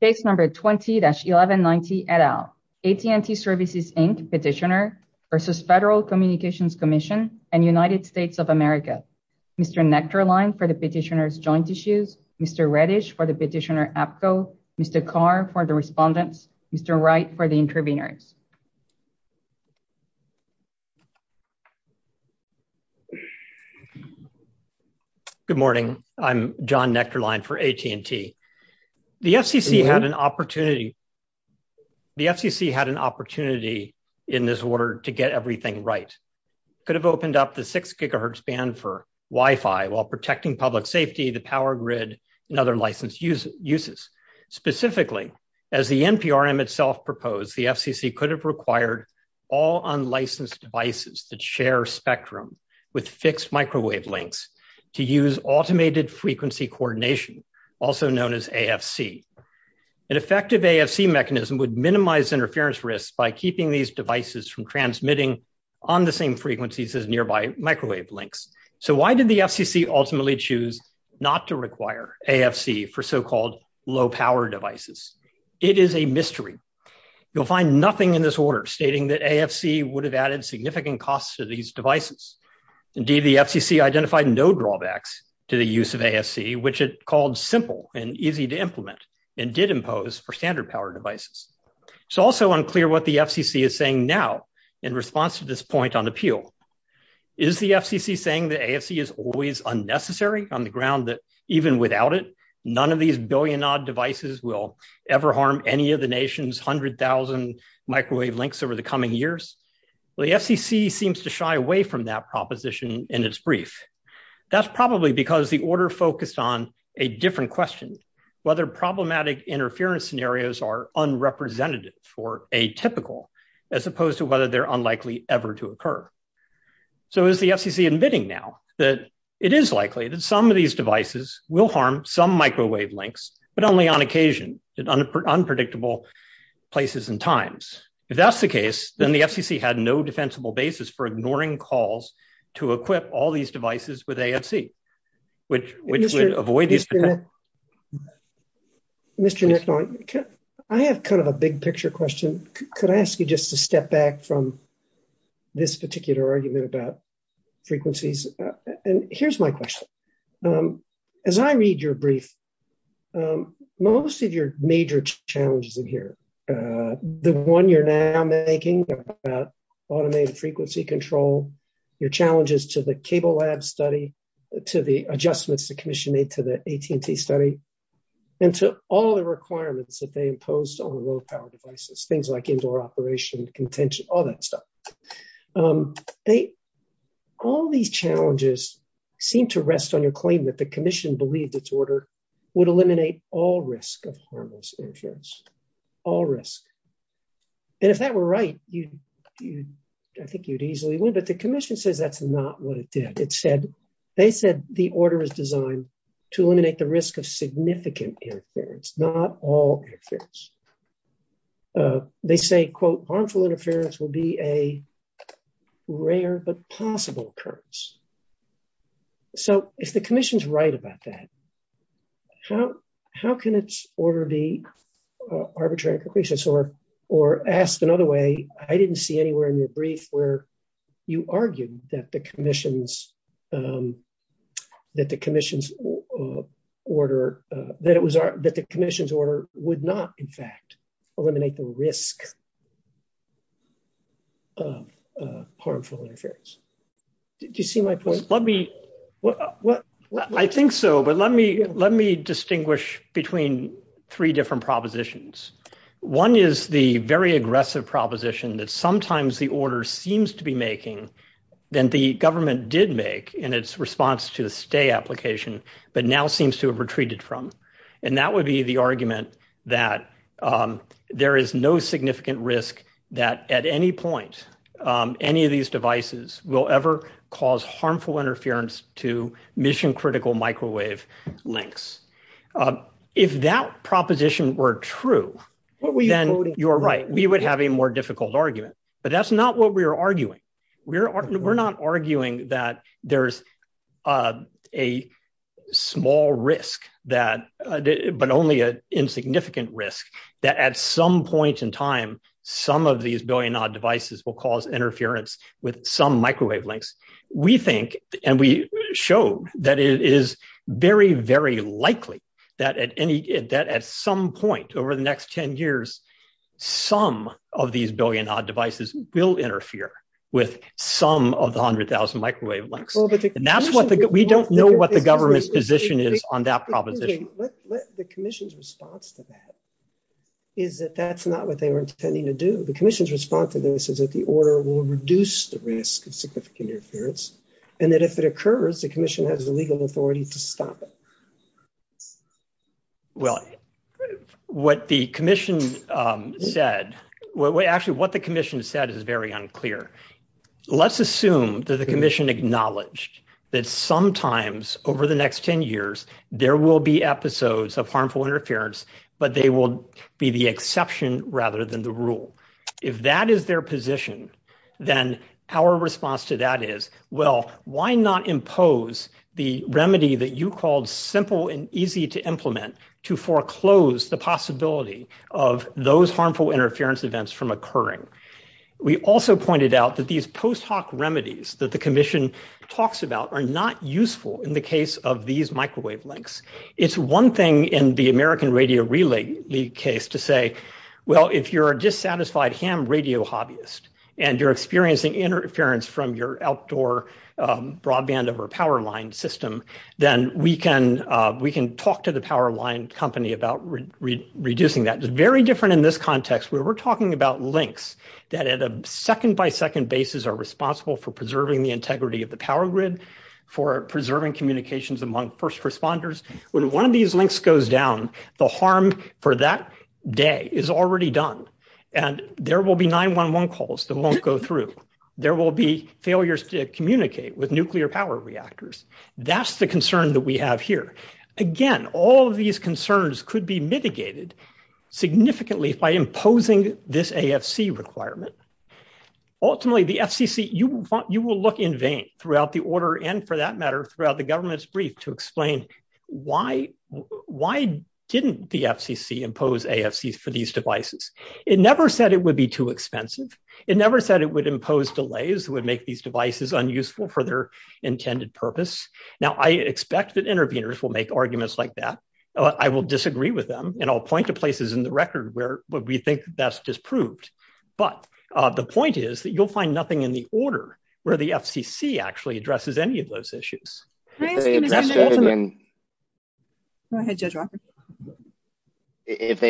Case number 20-1190 et al. AT&T Services, Inc. Petitioner v. Federal Communications Commission and United States of America. Mr. Nechterlein for the petitioner's joint issues, Mr. Redish for the petitioner APCO, Mr. Carr for the respondents, Mr. Wright for the interveners. Mr. Nechterlein Good morning. I'm John Nechterlein for AT&T. The FCC had an opportunity in this order to get everything right. It could have opened up the 6 gigahertz band for Wi-Fi while protecting public safety, the power grid, and other license uses. Specifically, as the NPRM itself proposed, the FCC could have required all unlicensed devices that share spectrum with fixed microwave links to use automated frequency coordination, also known as AFC. An effective AFC mechanism would minimize interference risks by keeping these devices from transmitting on the same frequencies as nearby microwave links. So why did the FCC ultimately choose not to require AFC for so-called low power devices? It is a mystery. You'll find nothing in this order stating that AFC would have added significant costs to these devices. Indeed, the FCC identified no drawbacks to the use of AFC, which it called simple and easy to implement and did impose for standard power devices. It's also unclear what the FCC is saying now in response to this point on appeal. Is the FCC saying that AFC is always unnecessary on the ground that even without it, none of these billion-odd devices will ever harm any of the nation's 100,000 microwave links over the coming years? Well, the FCC seems to shy away from that proposition in its brief. That's probably because the order focused on a different question, whether problematic interference scenarios are So is the FCC admitting now that it is likely that some of these devices will harm some microwave links, but only on occasion in unpredictable places and times. If that's the case, then the FCC had no defensible basis for ignoring calls to equip all these devices with AFC, which would avoid these. Mr. Nicknall, I have kind of a big picture question. Could I ask you just to step back from this particular argument about frequencies? And here's my question. As I read your brief, most of your major challenges in here, the one you're now making about automated frequency control, your challenges to the Cable Lab study, to the adjustments the commission made to the AT&T study, and to all the requirements that they imposed on low-power devices, things like indoor operation, contention, all that stuff. All these challenges seem to rest on your claim that the commission believed its order would eliminate all risk of harmless interference, all risk. And if that were right, I think you'd easily win. But the commission says that's not what it did. They said the order is designed to eliminate the risk of significant interference, not all interference. They say, quote, harmful interference will be a rare but possible occurrence. So if the commission's right about that, how can its order be arbitrary and capricious? Or asked another way, I didn't see anywhere in your brief where you argued that the commission's order would not, in fact, eliminate the risk of harmful interference. Did you see my point? I think so, but let me distinguish between three different propositions. One is the very aggressive proposition that sometimes the order seems to be making, then the government did make in its response to the stay application, but now seems to have retreated from. And that would be the argument that there is no significant risk that at any point any of these devices will ever cause harmful interference to mission-critical microwave links. If that proposition were true, then you're right, we would have a more difficult argument. But that's not what we're arguing. We're not arguing that there's a small risk, but only an insignificant risk, that at some point in time, some of these billion-odd devices will cause interference with some microwave links. We think, and we show that it is very, very likely that at some point over the next 10 years, some of these billion-odd devices will interfere with some of the 100,000 microwave links. And we don't know what the government's position is on that proposition. The commission's response to that is that that's not what they were intending to do. The commission's response to this is that the order will reduce the risk of significant interference, and that if it occurs, the commission has the legal authority to stop it. Well, what the commission said, actually what the commission said is very unclear. Let's assume that the commission acknowledged that sometimes over the next 10 years, there will be episodes of harmful interference, but they will be the exception rather than the rule. If that is their position, then our response to that is, well, why not impose the remedy that you called simple and easy to implement to foreclose the possibility of those harmful interference events from occurring? We also pointed out that these post-hoc remedies that the commission talks about are not useful in the case of these microwave links. It's one thing in the American Radio Relay League case to say, well, if you're a dissatisfied ham radio hobbyist and you're experiencing interference from your outdoor broadband or power line system, then we can talk to the power line company about reducing that. It's very different in this context where we're talking about links that at a second-by-second basis are responsible for preserving the integrity of the power grid, for preserving communications among first responders. When one of these links goes down, the harm for that day is already done, and there will be 911 calls that won't go through. There will be failures to communicate with nuclear power reactors. That's the concern that we have here. Again, all of these concerns could be mitigated significantly by imposing this AFC requirement. Ultimately, the FCC, you will look in vain throughout the order, and for that matter, throughout the government's brief to explain why didn't the FCC impose AFCs for these devices. It never said it would be too expensive. It never said it would impose delays that would make these devices unuseful for their intended purpose. Now, I expect that interveners will make arguments like that. I will disagree with them, and I'll point to places in the record where we think that's disproved, but the point is that you'll find nothing in the order where the FCC actually addresses any of those issues. If they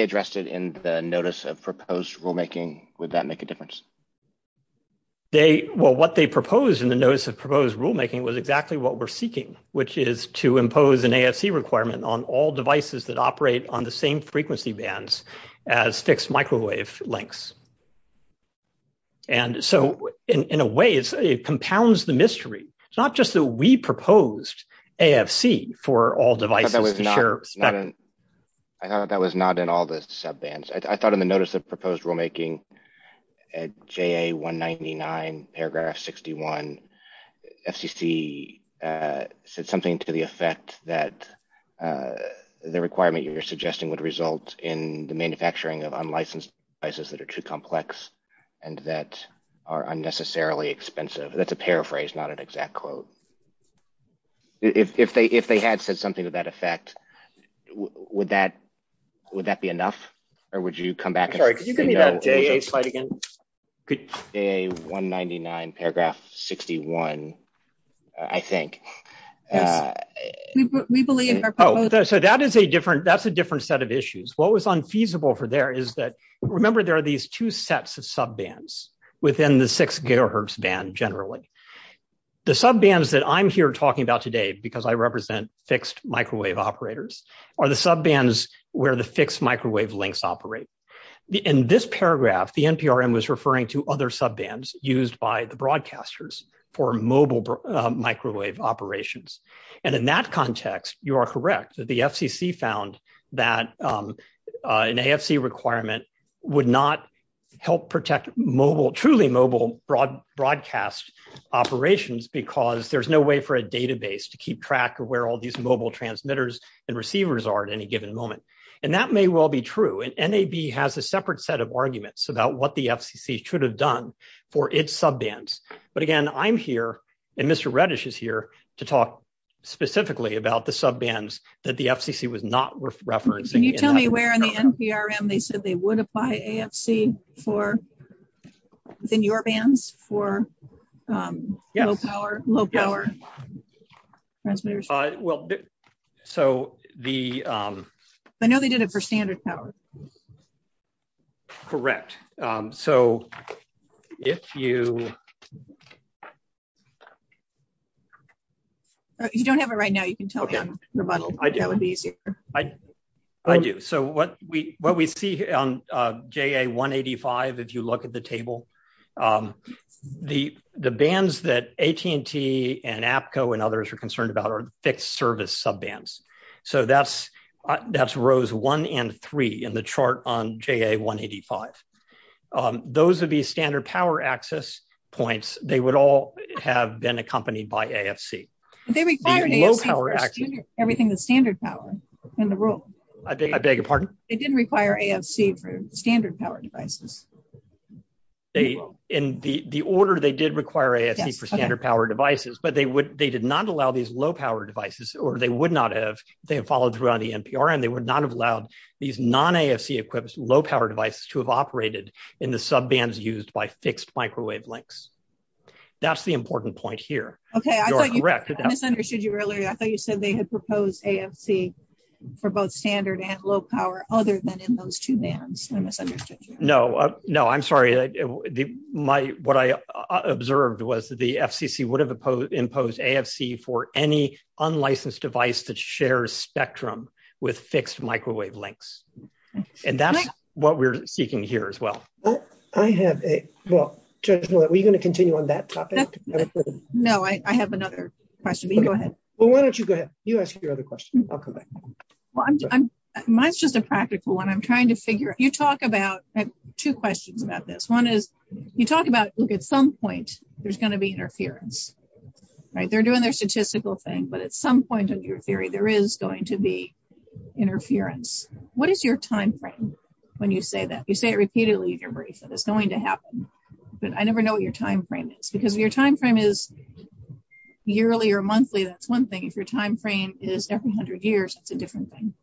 addressed it in the notice of proposed rulemaking, would that make a difference? Well, what they proposed in the notice of proposed rulemaking was exactly what we're seeking, which is to impose an AFC requirement on all devices that operate on the same frequency bands as fixed microwave links. So, in a way, it compounds the mystery. It's not just that we proposed AFC for all devices to share- I thought that was not in all the sub bands. I thought in the notice of proposed rulemaking at JA 199 paragraph 61, FCC said something to the manufacturing of unlicensed devices that are too complex and that are unnecessarily expensive. That's a paraphrase, not an exact quote. If they had said something to that effect, would that be enough? Or would you come back and- Sorry, could you give me that JA slide again? JA 199 paragraph 61, I think. Yes, we believe our- Oh, so that's a different set of issues. What was unfeasible for there is that, remember there are these two sets of sub bands within the six gigahertz band generally. The sub bands that I'm here talking about today, because I represent fixed microwave operators, are the sub bands where the fixed microwave links operate. In this paragraph, the NPRM was referring to other sub bands used by the broadcasters for mobile microwave operations. In that context, you are correct. The FCC found that an AFC requirement would not help protect truly mobile broadcast operations because there's no way for a database to keep track of where all these mobile transmitters and receivers are at any given moment. That may well be true. NAB has a separate set of done for its sub bands. But again, I'm here and Mr. Reddish is here to talk specifically about the sub bands that the FCC was not referencing. Can you tell me where in the NPRM they said they would apply AFC within your bands for low power transmitters? I know they did it for standard power. Correct. You don't have it right now. You can tell me. I do. What we see on JA185, if you look at the table, the bands that AT&T and APCO and others are concerned about are fixed 1 and 3 in the chart on JA185. Those would be standard power access points. They would all have been accompanied by AFC. They required AFC for everything that's standard power in the rule. They didn't require AFC for standard power devices. In the order they did require AFC for standard power devices, but they did not allow these low power devices or they would not have, they have followed through on the NPRM. They would not have allowed these non-AFC equipped low power devices to have operated in the sub bands used by fixed microwave links. That's the important point here. Okay. I misunderstood you earlier. I thought you said they had proposed AFC for both standard and low power other than in those two bands. I misunderstood you. No, I'm sorry. What I observed was that the FCC would have imposed AFC for any unlicensed device that shares spectrum with fixed microwave links. That's what we're seeking here as well. I have a, well, were you going to continue on that topic? No, I have another question, but you go ahead. Well, why don't you go ahead? You ask your other question. I'll come back. Mine's just a practical one. I'm trying to figure, you talk about, I have two questions about this. One is you talk about, look, at some point there's going to be a statistical thing, but at some point in your theory, there is going to be interference. What is your timeframe when you say that? You say it repeatedly in your brief that it's going to happen, but I never know what your timeframe is because your timeframe is yearly or monthly. That's one thing. If your timeframe is every hundred years, it's a different thing.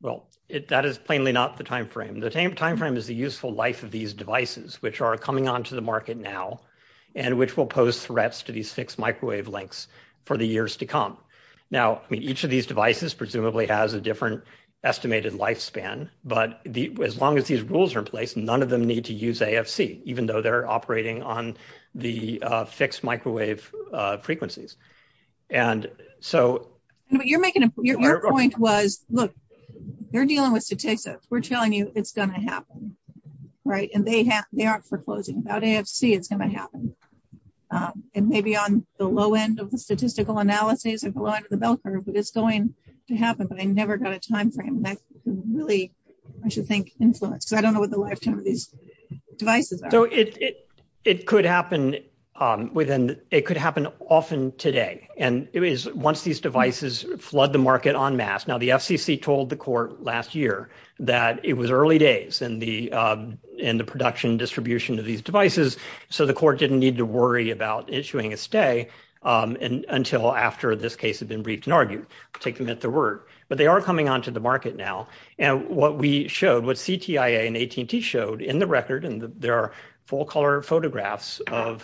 Well, that is plainly not the timeframe. The timeframe is the useful life of these devices, which are coming onto the market now and which will pose threats to these fixed microwave links for the years to come. Now, I mean, each of these devices presumably has a different estimated lifespan, but as long as these rules are in place, none of them need to use AFC, even though they're operating on the fixed microwave frequencies. Your point was, look, they're dealing with statistics. We're telling it's going to happen. They aren't foreclosing. Without AFC, it's going to happen. Maybe on the low end of the statistical analysis, at the low end of the bell curve, it's going to happen, but I never got a timeframe. That's really, I should think, influence. I don't know what the lifetime of these devices are. It could happen often today. Once these devices flood the market en masse, now, the FCC told the court last year that it was early days in the production distribution of these devices, so the court didn't need to worry about issuing a stay until after this case had been briefed and argued. I'll take them at their word, but they are coming onto the market now. What we showed, what CTIA and AT&T showed in the record, and there are full-color examples, and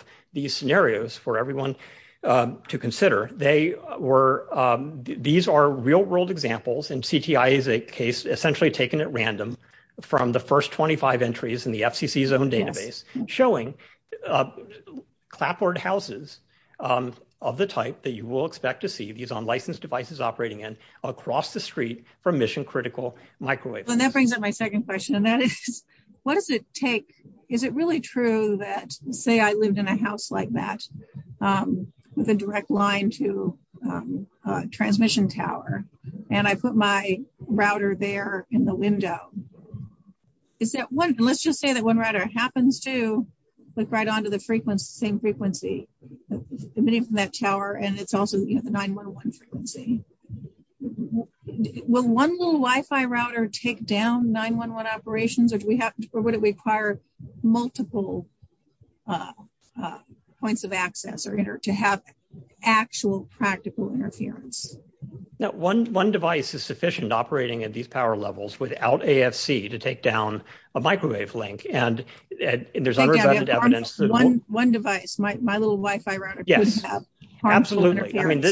CTIA is a case essentially taken at random from the first 25 entries in the FCC's own database, showing clapboard houses of the type that you will expect to see these on licensed devices operating in across the street from mission-critical microwaves. That brings up my second question, and that is, what does it take? Is it really true that, say I lived in a house like that with a direct line to a transmission tower, and I put my router there in the window, is that one, let's just say that one router happens to click right onto the same frequency emitting from that tower, and it's also the 9-1-1 frequency. Will one little Wi-Fi router take down 9-1-1 operations, or would it require multiple points of access to have actual practical interference? No, one device is sufficient operating at these power levels without AFC to take down a microwave link, and there's unresolved evidence. One device, my little Wi-Fi router. Yes, absolutely. I mean,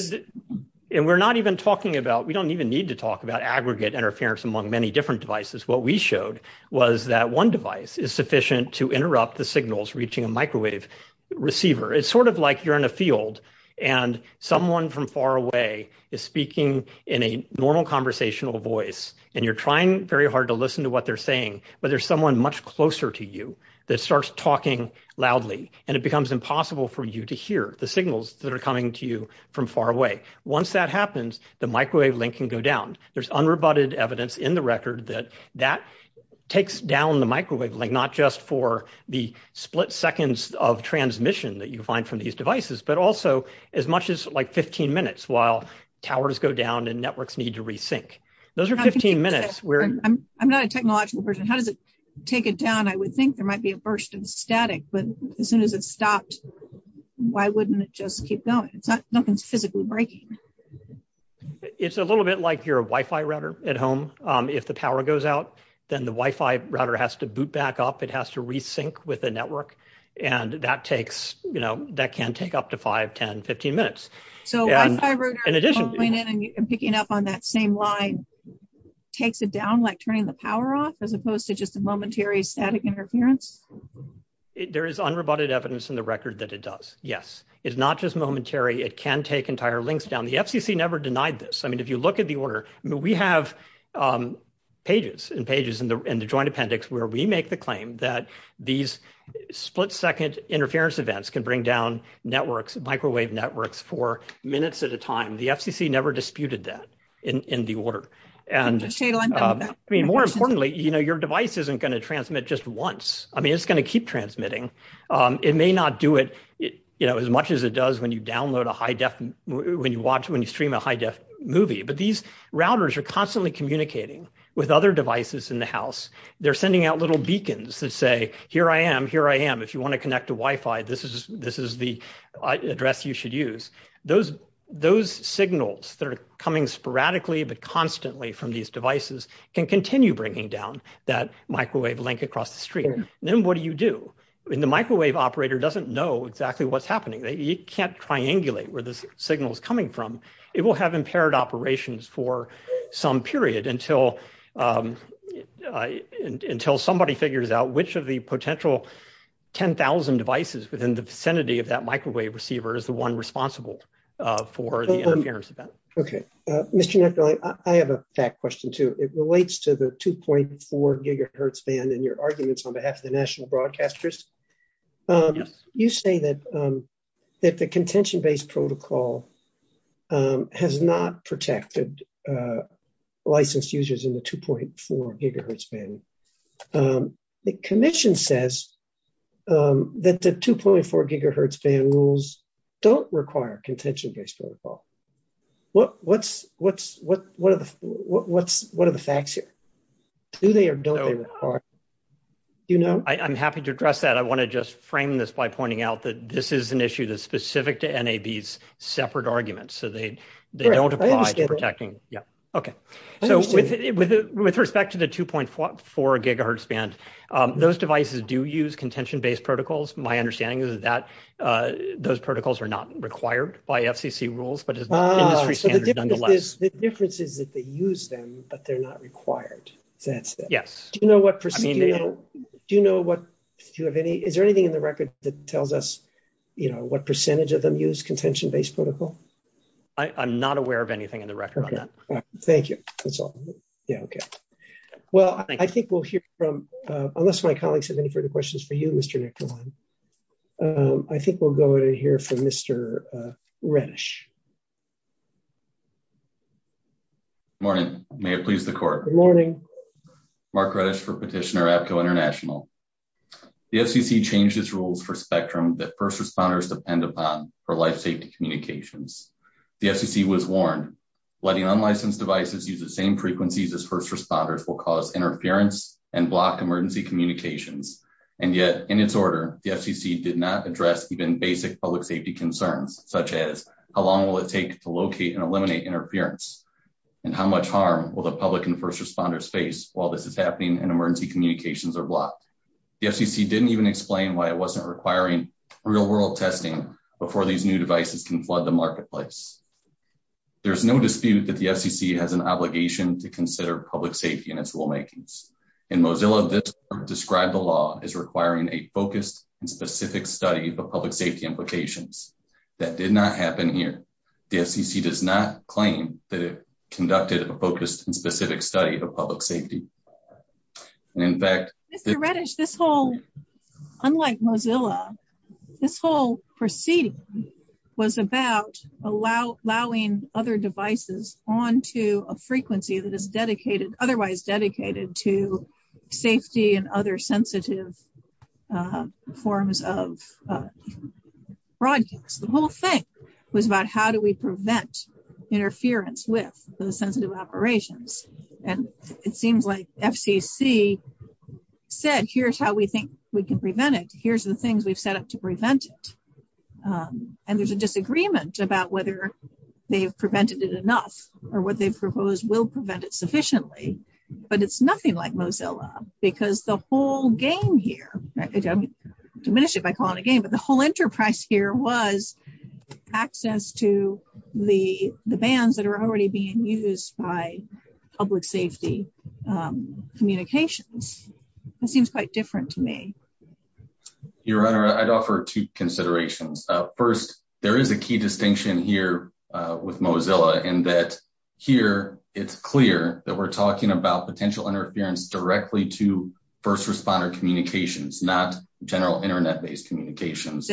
and we're not even talking about, we don't even need to talk about aggregate interference among many different devices. What we showed was that one device is sufficient to reach a microwave receiver. It's sort of like you're in a field, and someone from far away is speaking in a normal conversational voice, and you're trying very hard to listen to what they're saying, but there's someone much closer to you that starts talking loudly, and it becomes impossible for you to hear the signals that are coming to you from far away. Once that happens, the microwave link can go down. There's unrebutted evidence in the record that takes down the microwave link, not just for the split seconds of transmission that you find from these devices, but also as much as like 15 minutes while towers go down and networks need to re-sync. Those are 15 minutes. I'm not a technological person. How does it take it down? I would think there might be a burst of static, but as soon as it stopped, why wouldn't it just keep going? Nothing's physically breaking. It's a little bit like your Wi-Fi router at home. If the power goes out, then the Wi-Fi router has to boot back up. It has to re-sync with the network, and that takes, you know, that can take up to 5, 10, 15 minutes. So picking up on that same line takes it down like turning the power off as opposed to just a momentary static interference? There is unrebutted evidence in the record that it does, yes. It's not just momentary. It can take entire links down. The FCC never denied this. I mean, if you look at the order, we have pages and pages in the joint appendix where we make the claim that these split-second interference events can bring down networks, microwave networks, for minutes at a time. The FCC never disputed that in the order. I mean, more importantly, you know, your device isn't going to transmit just once. I mean, it's going to keep transmitting. It may not do it, you know, as much as it does when you download a high-def, when you watch, when you stream a high-def movie, but these devices are communicating with other devices in the house. They're sending out little beacons that say, here I am, here I am. If you want to connect to Wi-Fi, this is the address you should use. Those signals that are coming sporadically but constantly from these devices can continue bringing down that microwave link across the street. And then what do you do? I mean, the microwave operator doesn't know exactly what's happening. You can't triangulate where this is coming from, period, until somebody figures out which of the potential 10,000 devices within the vicinity of that microwave receiver is the one responsible for the interference event. Okay. Mr. Neff, I have a fact question too. It relates to the 2.4 gigahertz band in your arguments on behalf of the national broadcasters. You say that the contention-based protocol has not protected licensed users in the 2.4 gigahertz band. The commission says that the 2.4 gigahertz band rules don't require contention-based protocol. What are the facts here? Do they or don't they require it? I'm happy to address that. I want to just frame this by pointing out that this is an issue that's specific to NAB's separate arguments. So they don't apply to protecting. Yeah. Okay. So with respect to the 2.4 gigahertz band, those devices do use contention-based protocols. My understanding is that those protocols are not required by FCC rules, but it's an industry standard nonetheless. The difference is that they use them, but they're not required. That's it. Yes. Do you know what procedure... Do you know what... Do you have any... Is there percentage of them use contention-based protocol? I'm not aware of anything in the record on that. Thank you. That's all. Yeah. Okay. Well, I think we'll hear from... Unless my colleagues have any further questions for you, Mr. Nicholson, I think we'll go to hear from Mr. Reddish. Morning. May it please the court. Good morning. Mark Reddish for Petitioner, Petco International. The FCC changed its rules for spectrum that first responders depend upon for life safety communications. The FCC was warned letting unlicensed devices use the same frequencies as first responders will cause interference and block emergency communications. And yet in its order, the FCC did not address even basic public safety concerns, such as how long will it take to locate and eliminate interference? And how much harm will the public and first responders face while this is happening and emergency communications are blocked? The FCC didn't even explain why it wasn't requiring real-world testing before these new devices can flood the marketplace. There's no dispute that the FCC has an obligation to consider public safety in its rulemakings. In Mozilla, this described the law as requiring a focused and specific study of public safety implications. That did not happen here. The FCC does not claim that it conducted a specific study of public safety. And in fact, Mr. Reddish, this whole, unlike Mozilla, this whole proceeding was about allowing other devices onto a frequency that is dedicated, otherwise dedicated to safety and other sensitive forms of projects. The whole thing was about how do we prevent interference with those sensitive operations? And it seems like FCC said, here's how we think we can prevent it. Here's the things we've set up to prevent it. And there's a disagreement about whether they've prevented it enough or what they've proposed will prevent it sufficiently. But it's nothing like Mozilla because the whole game here, I'm going to diminish it by calling it a game, but the whole enterprise here was access to the bands that are already being used by public safety communications. It seems quite different to me. Your Honor, I'd offer two considerations. First, there is a key distinction here with Mozilla in that here, it's clear that we're talking about potential interference directly to general internet-based communications.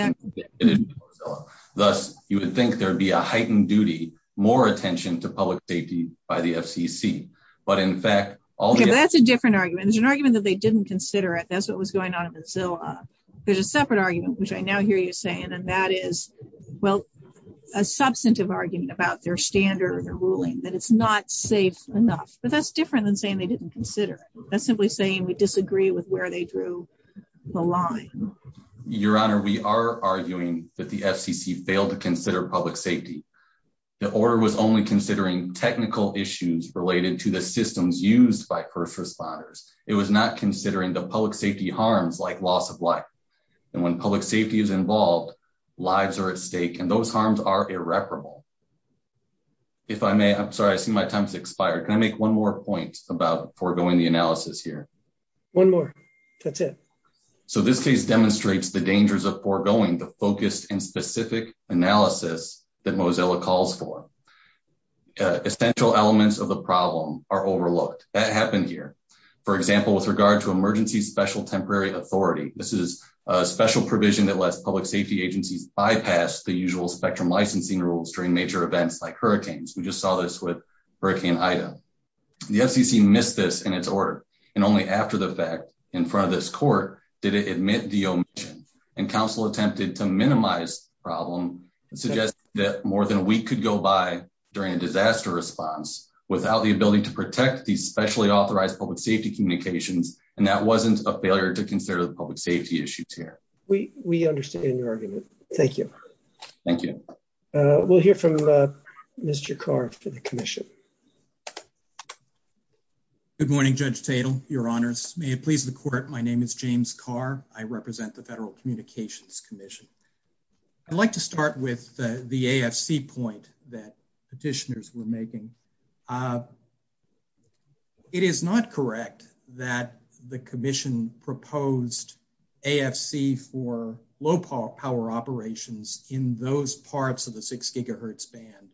Thus, you would think there'd be a heightened duty, more attention to public safety by the FCC. But in fact, all- Yeah, that's a different argument. There's an argument that they didn't consider it. That's what was going on in Mozilla. There's a separate argument, which I now hear you saying, and that is, well, a substantive argument about their standard or ruling that it's not safe enough. But that's different than saying they didn't consider it. That's simply saying we disagree with where they were going through the line. Your Honor, we are arguing that the FCC failed to consider public safety. The order was only considering technical issues related to the systems used by first responders. It was not considering the public safety harms like loss of life. And when public safety is involved, lives are at stake, and those harms are irreparable. If I may, I'm sorry, I see my time has expired. Can I make one more point about foregoing the analysis here? One more. That's it. So this case demonstrates the dangers of foregoing the focused and specific analysis that Mozilla calls for. Essential elements of the problem are overlooked. That happened here. For example, with regard to emergency special temporary authority, this is a special provision that lets public safety agencies bypass the usual spectrum licensing rules during major events like hurricanes. We just saw this with Hurricane Ida. The FCC missed this in its order, and only after the fact, in front of this court, did it admit the omission, and counsel attempted to minimize the problem and suggest that more than a week could go by during a disaster response without the ability to protect these specially authorized public safety communications, and that wasn't a failure to consider the public safety issues here. We understand your argument. Thank you. Thank you. We'll hear from Mr. Carr for the commission. Good morning, Judge Tatel, Your Honors. May it please the court, my name is James Carr. I represent the Federal Communications Commission. I'd like to start with the AFC point that petitioners were making. It is not correct that the commission proposed AFC for low power operations in those parts of the 6 gigahertz band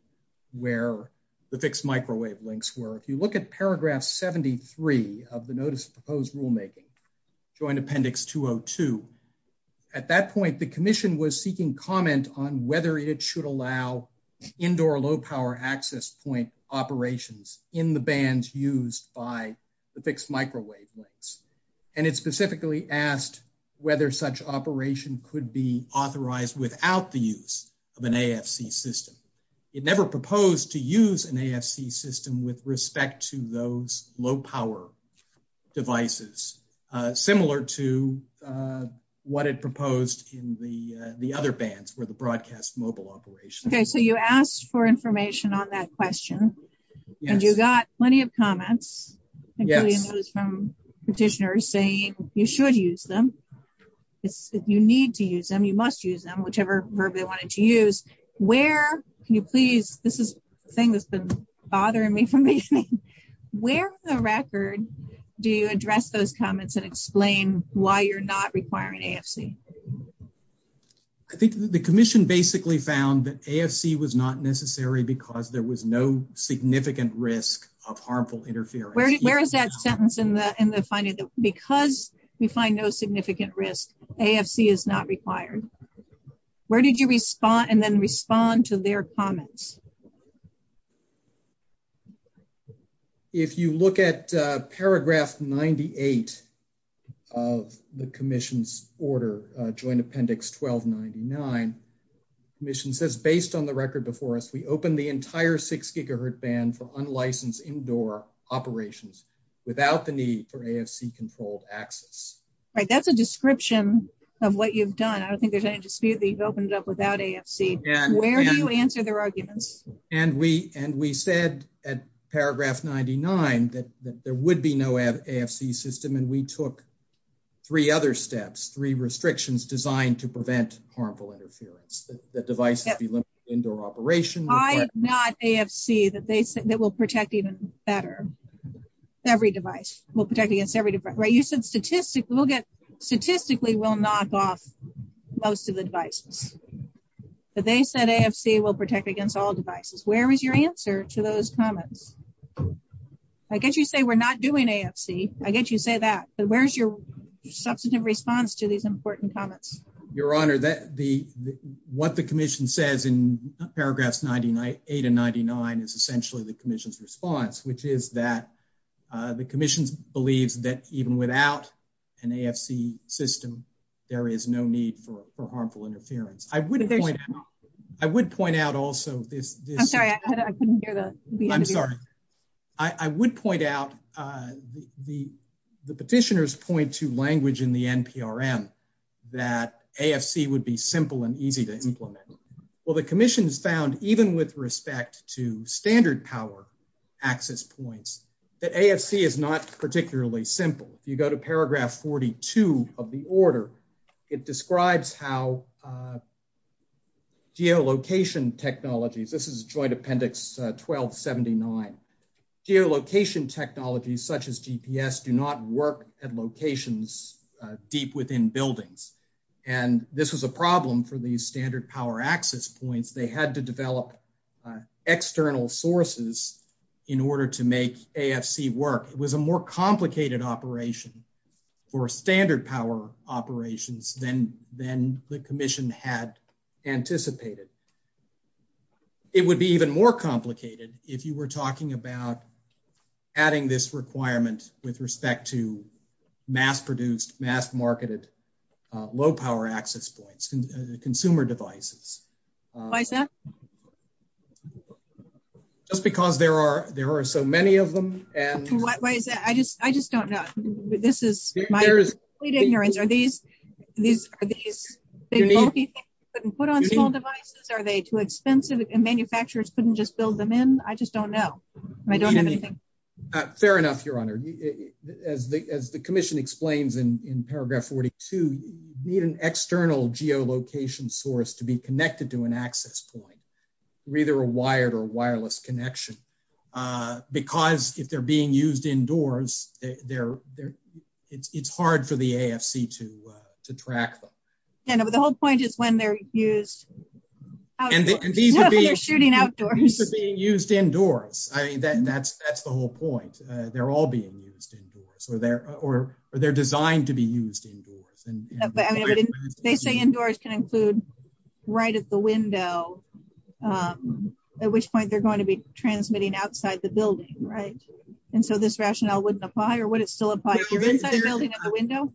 where the fixed microwave links were. If you look at paragraph 73 of the notice of proposed rulemaking, joint appendix 202, at that point, the commission was seeking comment on whether it should allow indoor low power access point operations in the bands used by the fixed microwave links, and it specifically asked whether such operation could be authorized without the use of an AFC system. It never proposed to use an AFC system with respect to those low power devices, similar to what it proposed in the other bands where the broadcast mobile operation. Okay, so you asked for information on that question, and you got plenty of comments, including those from petitioners saying you should use them. If you need to use them, you must use them, whichever verb they wanted to use. Where, can you please, this is the thing that's been bothering me from beginning, where on the record do you address those comments and explain why you're not requiring AFC? I think the commission basically found that AFC was not necessary because there was no finding that because we find no significant risk, AFC is not required. Where did you respond and then respond to their comments? If you look at paragraph 98 of the commission's order, joint appendix 1299, the commission says, based on the record before us, we open the entire six gigahertz band for AFC controlled access. Right, that's a description of what you've done. I don't think there's any dispute that you've opened it up without AFC. Where do you answer their arguments? And we said at paragraph 99 that there would be no AFC system, and we took three other steps, three restrictions designed to prevent harmful interference, that devices be limited indoor operation. I'm not AFC that they said that will protect even better, every device will protect against every device. Right, you said statistically we'll get, statistically we'll knock off most of the devices, but they said AFC will protect against all devices. Where is your answer to those comments? I guess you say we're not doing AFC, I guess you say that, but where's your substantive response to these important comments? Your honor, that the, what the commission says in 8 and 99 is essentially the commission's response, which is that the commission believes that even without an AFC system, there is no need for harmful interference. I would point, I would point out also this, I'm sorry, I couldn't hear the, I'm sorry, I would point out, the petitioners point to language in the NPRM that AFC would be simple and easy to implement. Well, the commission has found, even with respect to standard power access points, that AFC is not particularly simple. If you go to paragraph 42 of the order, it describes how geolocation technologies, this is joint appendix 1279, geolocation technologies such as GPS do not work at locations deep within buildings. And this was a problem for these standard power access points. They had to develop external sources in order to make AFC work. It was a more complicated operation for standard power operations than the commission had anticipated. It would be even more complicated if you were talking about adding this requirement with respect to mass-produced, mass-marketed, low-power access points, consumer devices. Just because there are so many of them. Why is that? I just don't know. This is my complete ignorance. Are these bulky things you can put on small devices? Are they too expensive and manufacturers couldn't just build them in? I just don't know. I don't have anything. Fair enough, your honor. As the commission explains in paragraph 42, you need an external geolocation source to be connected to an access point. Either a wired or wireless connection. Because if they're being used indoors, it's hard for the AFC to track them. The whole point is when they're used outdoors. These are being used indoors. That's the whole point. They're all being used indoors. They're designed to be used indoors. They say indoors can include right at the window, at which point they're going to be transmitting outside the building. This rationale wouldn't apply or would it still apply? We don't know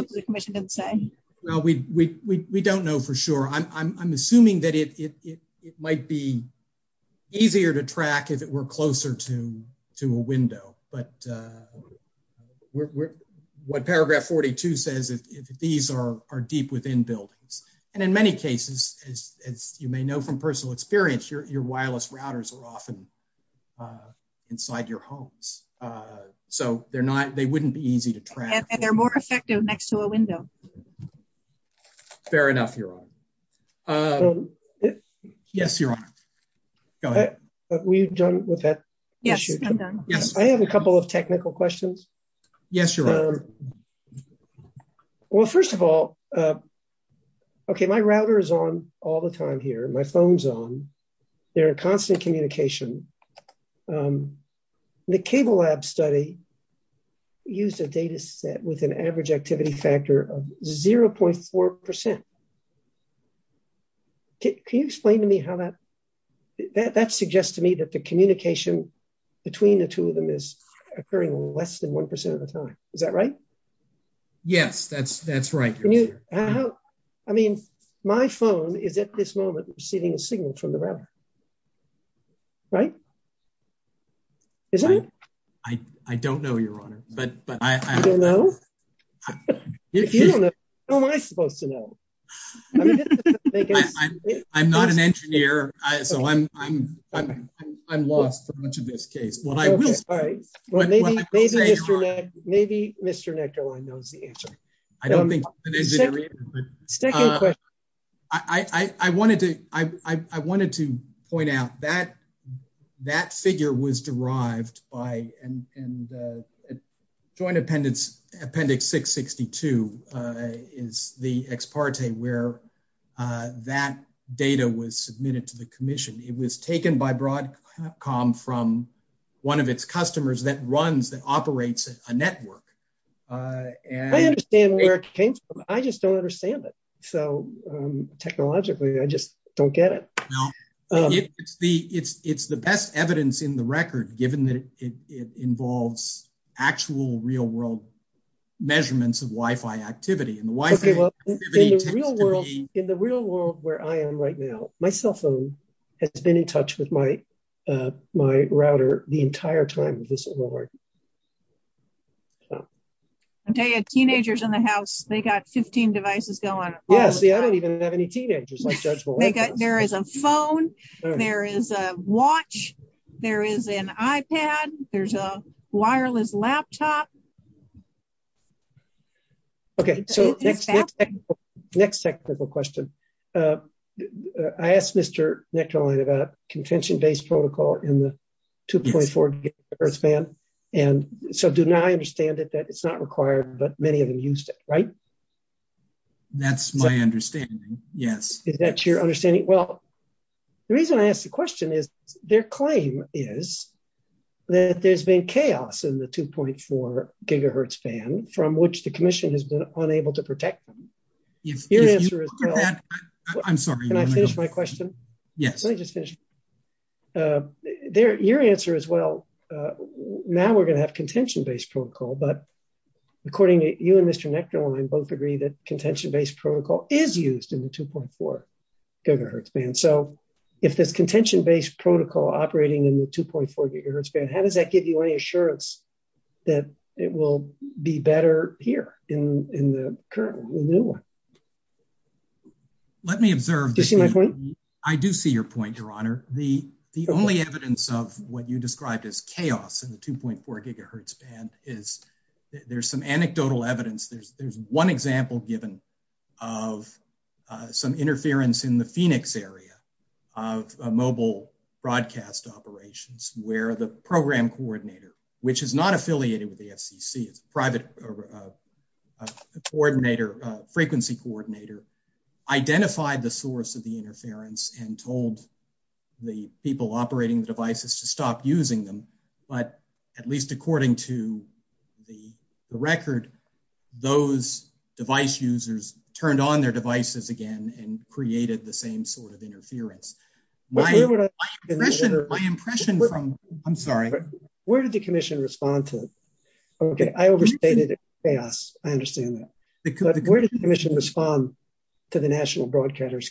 because the commission didn't say. We don't know for sure. I'm assuming it might be easier to track if it were closer to a window. What paragraph 42 says, these are deep within buildings. In many cases, as you may know from personal experience, your wireless routers are often inside your homes. They wouldn't be easy to track. They're more effective next to a window. Fair enough, your honor. Yes, your honor. I have a couple of technical questions. Yes, your honor. First of all, my router is on all the time here. My phone's on. They're in constant communication. The cable lab study used a data set with an average activity factor of 0.4%. Can you explain to me how that... That suggests to me that the communication between the two of them is occurring less than 1% of the time. Is that right? Yes, that's right. How... I mean, my phone is at this moment receiving a signal from the router. Right? Is that it? I don't know, your honor, but I... You don't know? If you don't know, how am I supposed to know? I'm not an engineer, so I'm lost for much of this case. What I will say... Maybe Mr. Nectarline knows the answer. I don't think... I wanted to point out that figure was derived by... And Joint Appendix 662 is the ex parte where that data was submitted to the commission. It was taken by Broadcom from one of its customers that runs, that operates a network. I understand where it came from. I just don't understand it. So, technologically, I just don't get it. It's the best evidence in the record, given that it involves actual real world measurements of Wi-Fi activity. In the real world where I am right now, my cell phone has been in touch with my router the entire time of this award. I'll tell you, teenagers in the house, they got 15 devices going all the time. Yeah, see, I don't even have any teenagers. There is a phone, there is a watch, there is an iPad, there's a wireless laptop. Okay, so next technical question. I asked Mr. Nectarline about contention-based protocol in the 2.4 gigahertz band. And so, do now I understand that it's not required, but many of them used it, right? That's my understanding, yes. Is that your understanding? Well, the reason I asked the question is their claim is that there's been chaos in the 2.4 gigahertz band from which the commission has been unable to protect them. I'm sorry. Can I finish my question? Yes. Let me just finish. Your answer is, well, now we're going to have contention-based protocol, but according to you and Mr. Nectarline, both agree that contention-based protocol is used in the 2.4 gigahertz band. So, if there's contention-based protocol operating in the 2.4 gigahertz band, how does that give you any assurance that it will be better here in the new one? Do you see my point? Let me observe. I do see your point, Your Honor. The only evidence of what you described as chaos in the 2.4 gigahertz band is there's some anecdotal evidence. There's one example given of some interference in the Phoenix area of a mobile broadcast operations where the program coordinator, which is not affiliated with the FCC, it's a private frequency coordinator, identified the source of the interference and told the people operating the devices to stop using them. But at least according to the record, those device users turned on their devices again and created the same sort of Okay, I overstated chaos. I understand that. But where did the commission respond to the national broadcaster's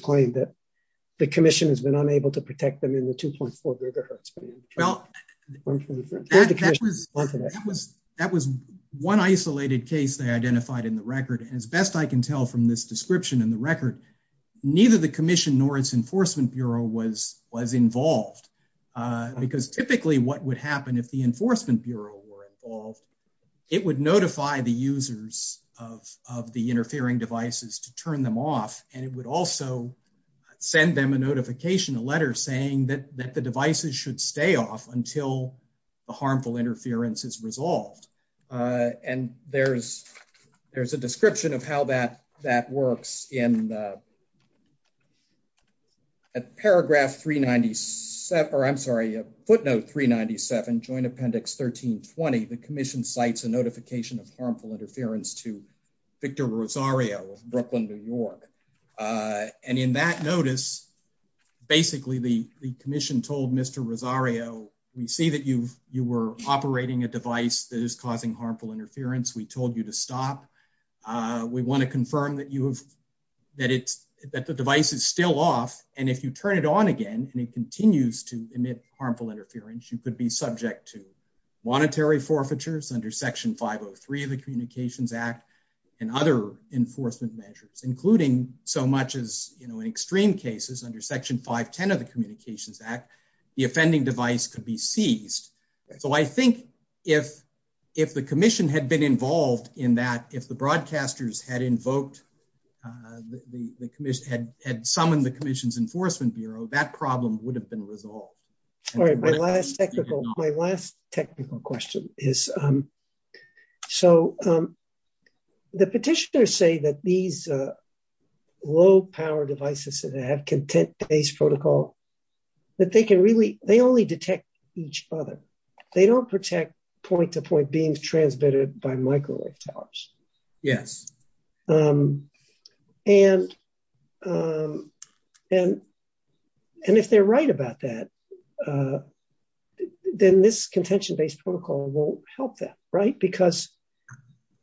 claim that the commission has been unable to protect them in the 2.4 gigahertz band? Well, that was one isolated case they identified in the record, and as best I can tell from this description in the record, neither the commission nor its enforcement bureau were involved. It would notify the users of the interfering devices to turn them off, and it would also send them a notification, a letter saying that the devices should stay off until the harmful interference is resolved. And there's a description of how that 13 20. The commission cites a notification of harmful interference to Victor Rosario of Brooklyn, New York on in that notice. Basically, the commission told Mr Rosario we see that you were operating a device that is causing harmful interference. We told you to stop. We want to confirm that you have that it's that the device is still off. And if you turn it on again, and it continues to emit harmful interference, you could be subject to monetary forfeitures under Section 503 of the Communications Act and other enforcement measures, including so much is, you know, in extreme cases under Section 5 10 of the Communications Act, the offending device could be seized. So I think if if the commission had been involved in that, if the broadcasters had invoked the commission had had summoned the commission's Bureau, that problem would have been resolved. All right, my last technical my last technical question is, so the petitioners say that these low power devices that have content based protocol, that they can really they only detect each other. They don't protect point to point being transmitted by microwave towers. Yes. And, and, and if they're right about that, then this contention based protocol won't help that, right? Because,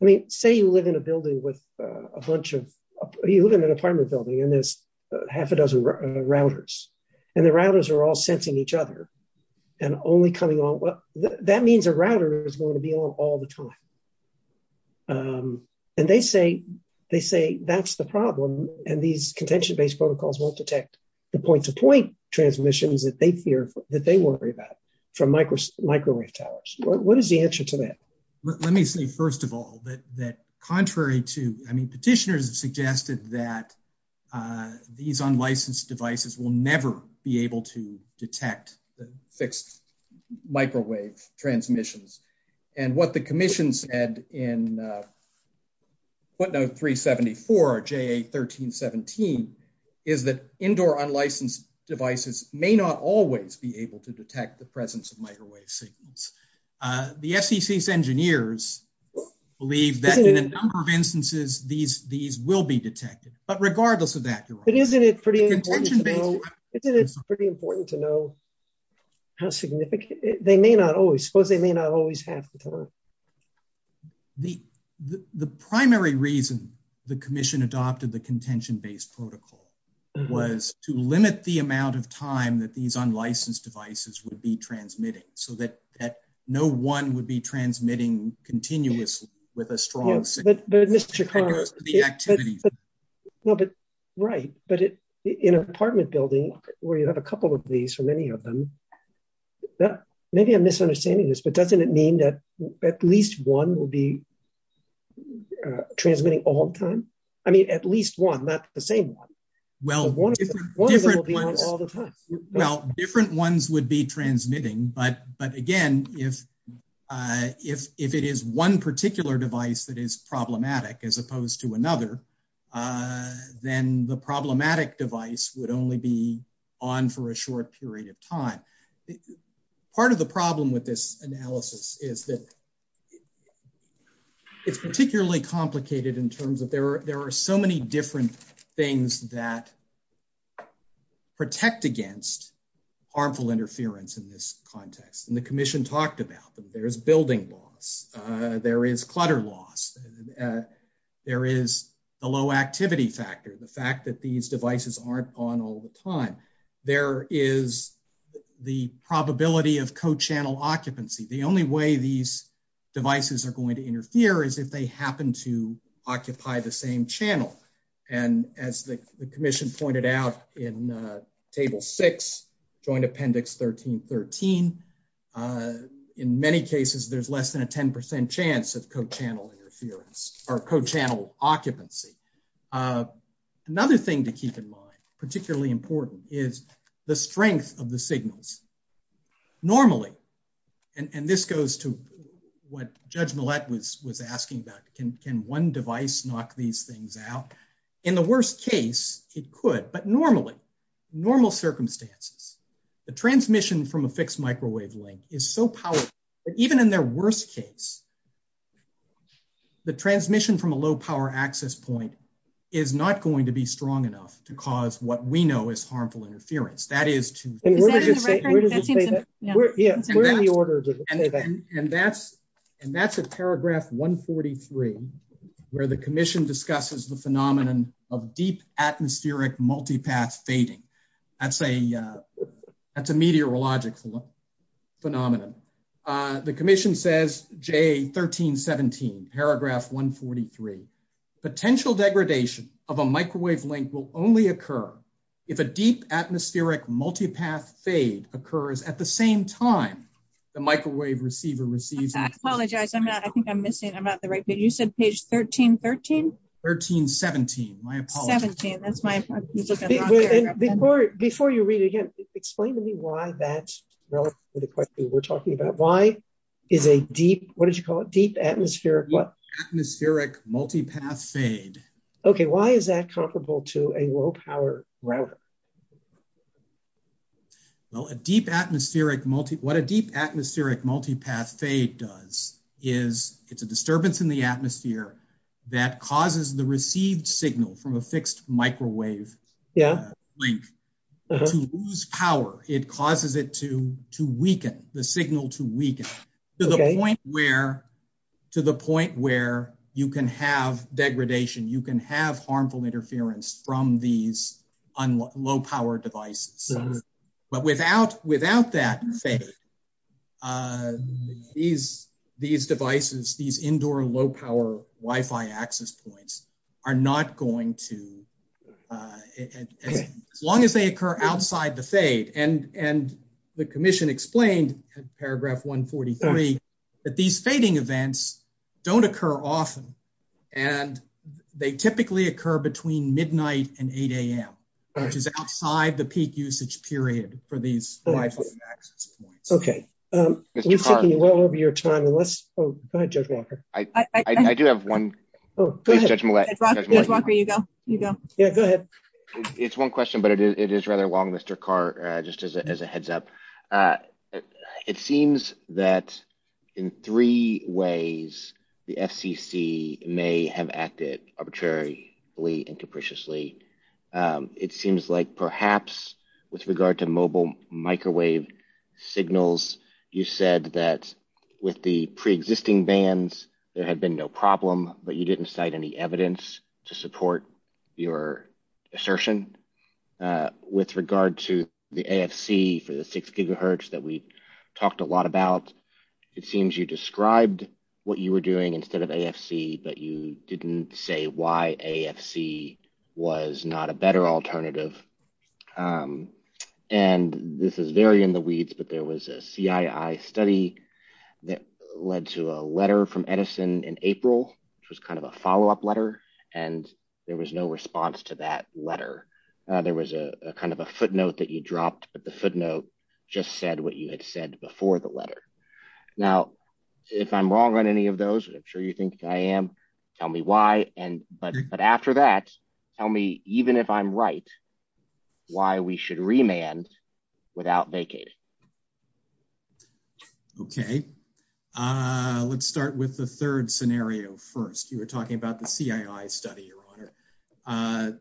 I mean, say you live in a building with a bunch of you live in an apartment building, and there's half a dozen routers, and the routers are all sensing each other. And only coming on what that means a router is going to be on all the time. And they say, they say, that's the problem. And these contention based protocols won't detect the point to point transmissions that they fear that they worry about from micro microwave towers. What is the answer to that? Let me say first of all that that contrary to I mean, petitioners have suggested that these unlicensed devices will never be able to detect the fixed microwave transmissions. And what the commission said in what note 374 or JA 1317 is that indoor unlicensed devices may not always be able to detect the presence of microwave signals. The FCC's engineers believe that in a number of instances, these these will be detected, but regardless of that, it isn't it pretty important to know how significant they may not always suppose they may not always have the time. The primary reason the commission adopted the contention based protocol was to limit the amount of time that these unlicensed devices would be transmitting so that no one would be transmitting continuously with a strong Mr. Right, but in an apartment building, where you have a couple of these, or many of them, maybe I'm misunderstanding this, but doesn't it mean that at least one will be transmitting all the time? I mean, at least one, not the same one? Well, well, different ones would be transmitting. But But again, if if if it is one particular device that is problematic, as opposed to another, then the problematic device would only be on for a short period of time. Part of the problem with this analysis is that it's particularly complicated in terms of there, there are so many different things that protect against harmful interference in this context. And the commission talked about there's building loss, there is clutter loss, there is a low activity factor, the fact that these devices aren't on all the time, there is the probability of co channel occupancy, the only way these devices are going to interfere is if they happen to occupy the same channel. And as the commission pointed out, in table six, joint appendix 1313. In many cases, there's less than a 10% chance of co channel interference or co channel occupancy. Another thing to keep in mind, particularly important is the strength of the signals. Normally, and this goes to what Judge But normally, normal circumstances, the transmission from a fixed microwave link is so powerful, that even in their worst case, the transmission from a low power access point is not going to be strong enough to cause what we know is harmful interference. That is to say, and that's, and that's a paragraph 143, where the commission discusses the phenomenon of deep atmospheric multipath fading. That's a that's a meteorological phenomenon. The commission says J 1317, paragraph 143, potential degradation of a microwave link will only occur if a deep atmospheric multipath fade occurs at the same time, the microwave receiver receives apologize, I'm not I think I'm missing I'm not the right but you said page 1313 1317. Before you read again, explain to me why that's the question we're talking about. Why is a deep what did you call it deep atmospheric what atmospheric multipath fade? Okay, why is that comparable to a low power router? Well, a deep atmospheric multi what a deep atmospheric multipath fade does is it's a disturbance in the atmosphere that causes the received signal from a fixed microwave? Yeah, link to lose power, it causes it to weaken the signal to weaken to the point where to the point where you can have degradation, you can have harmful interference from these on low power devices. But without without that, these, these devices, these indoor low power Wi Fi access points are not going to as long as they occur outside the fade and and the commission explained paragraph 143 that these fading events don't occur often. And they typically occur between midnight and 8am, which is outside the peak usage period for these. Okay, well over your time and let's judge Walker, I do have one. Oh, go ahead. Walker, you go, you go. Yeah, go ahead. It's one question, but it is rather long, Mr. Carr, just as a heads up. It seems that in ways, the FCC may have acted arbitrarily and capriciously. It seems like perhaps with regard to mobile microwave signals, you said that with the pre existing bands, there had been no problem, but you didn't cite any evidence to support your assertion. With regard to the AFC for the six gigahertz that we talked a lot about, it seems you described what you were doing instead of AFC, but you didn't say why AFC was not a better alternative. And this is very in the weeds, but there was a CII study that led to a letter from Edison in April, which was kind of a follow up letter. And there was no response to that letter. There was a kind of a footnote that you said what you had said before the letter. Now, if I'm wrong on any of those, I'm sure you think I am. Tell me why. And but but after that, tell me even if I'm right, why we should remand without vacated. Okay, let's start with the third scenario. First, you were talking about the CII study, Your Honor.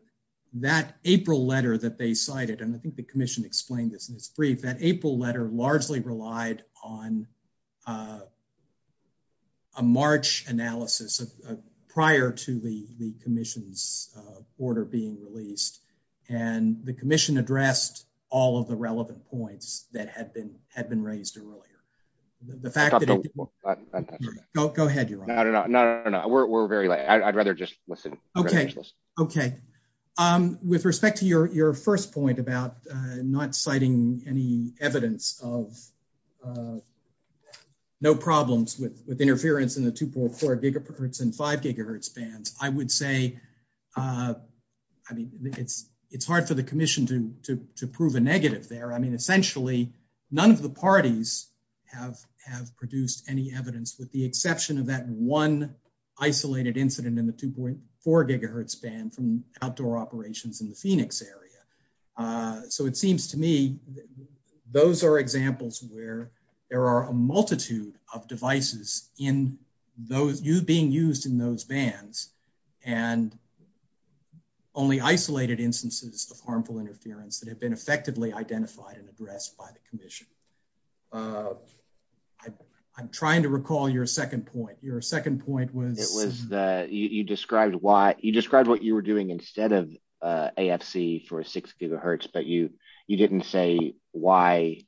That April letter that they cited, and I think the commission explained this in that April letter largely relied on a March analysis of prior to the commission's order being released. And the commission addressed all of the relevant points that had been had been raised earlier. The fact that... Go ahead, Your Honor. No, no, no, we're very late. I'd rather just listen. Okay, okay. With respect to your first point about not citing any evidence of no problems with interference in the 2.4 gigahertz and 5 gigahertz bands, I would say I mean, it's hard for the commission to prove a negative there. I mean, essentially, none of the parties have produced any evidence with the exception of that one isolated incident in the 2.4 gigahertz band from outdoor operations in the Phoenix area. So it seems to me those are examples where there are a multitude of devices being used in those bands and only isolated instances of harmful interference that have been effectively identified and addressed by the commission. I'm trying to recall your second point. Your second point was? It was that you described what you were doing instead of AFC for 6 gigahertz, but you didn't say why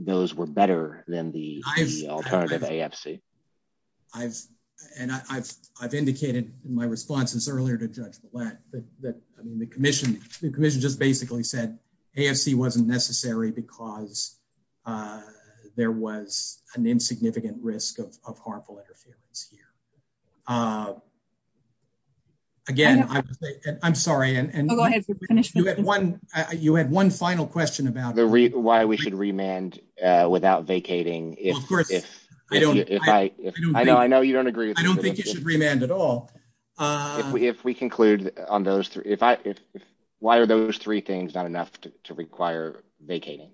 those were better than the alternative AFC. I've indicated in my responses earlier to Judge Blatt that the commission just basically said AFC wasn't necessary because there was an insignificant risk of harmful interference here. Again, I'm sorry. You had one final question about why we should remand without vacating. I know you don't agree. I don't think you should remand at all. If we conclude on those three, why are those three things not enough to require vacating?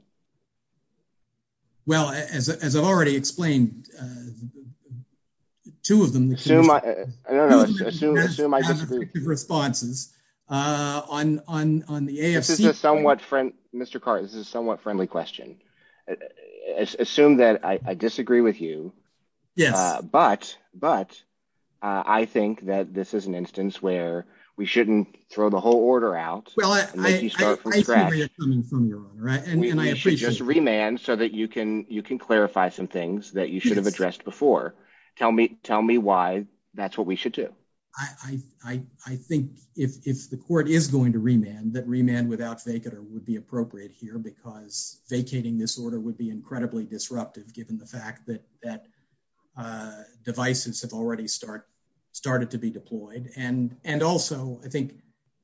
Well, as I've already explained, two of them. I don't know. Assume I disagree with you. ...responses on the AFC. This is a somewhat, Mr. Carter, this is a somewhat friendly question. I assume that I disagree with you, but I think that this is an instance where we shouldn't throw the whole order out and make you start from scratch. I see where you're coming from, Your Honor, and I appreciate it. We should just remand so that you can clarify some things that you should have addressed before. Tell me why that's what we should do. I think if the court is going to remand, that remand without vacator would be appropriate here because vacating this order would be incredibly disruptive given the fact that devices have already started to be deployed. And also, I think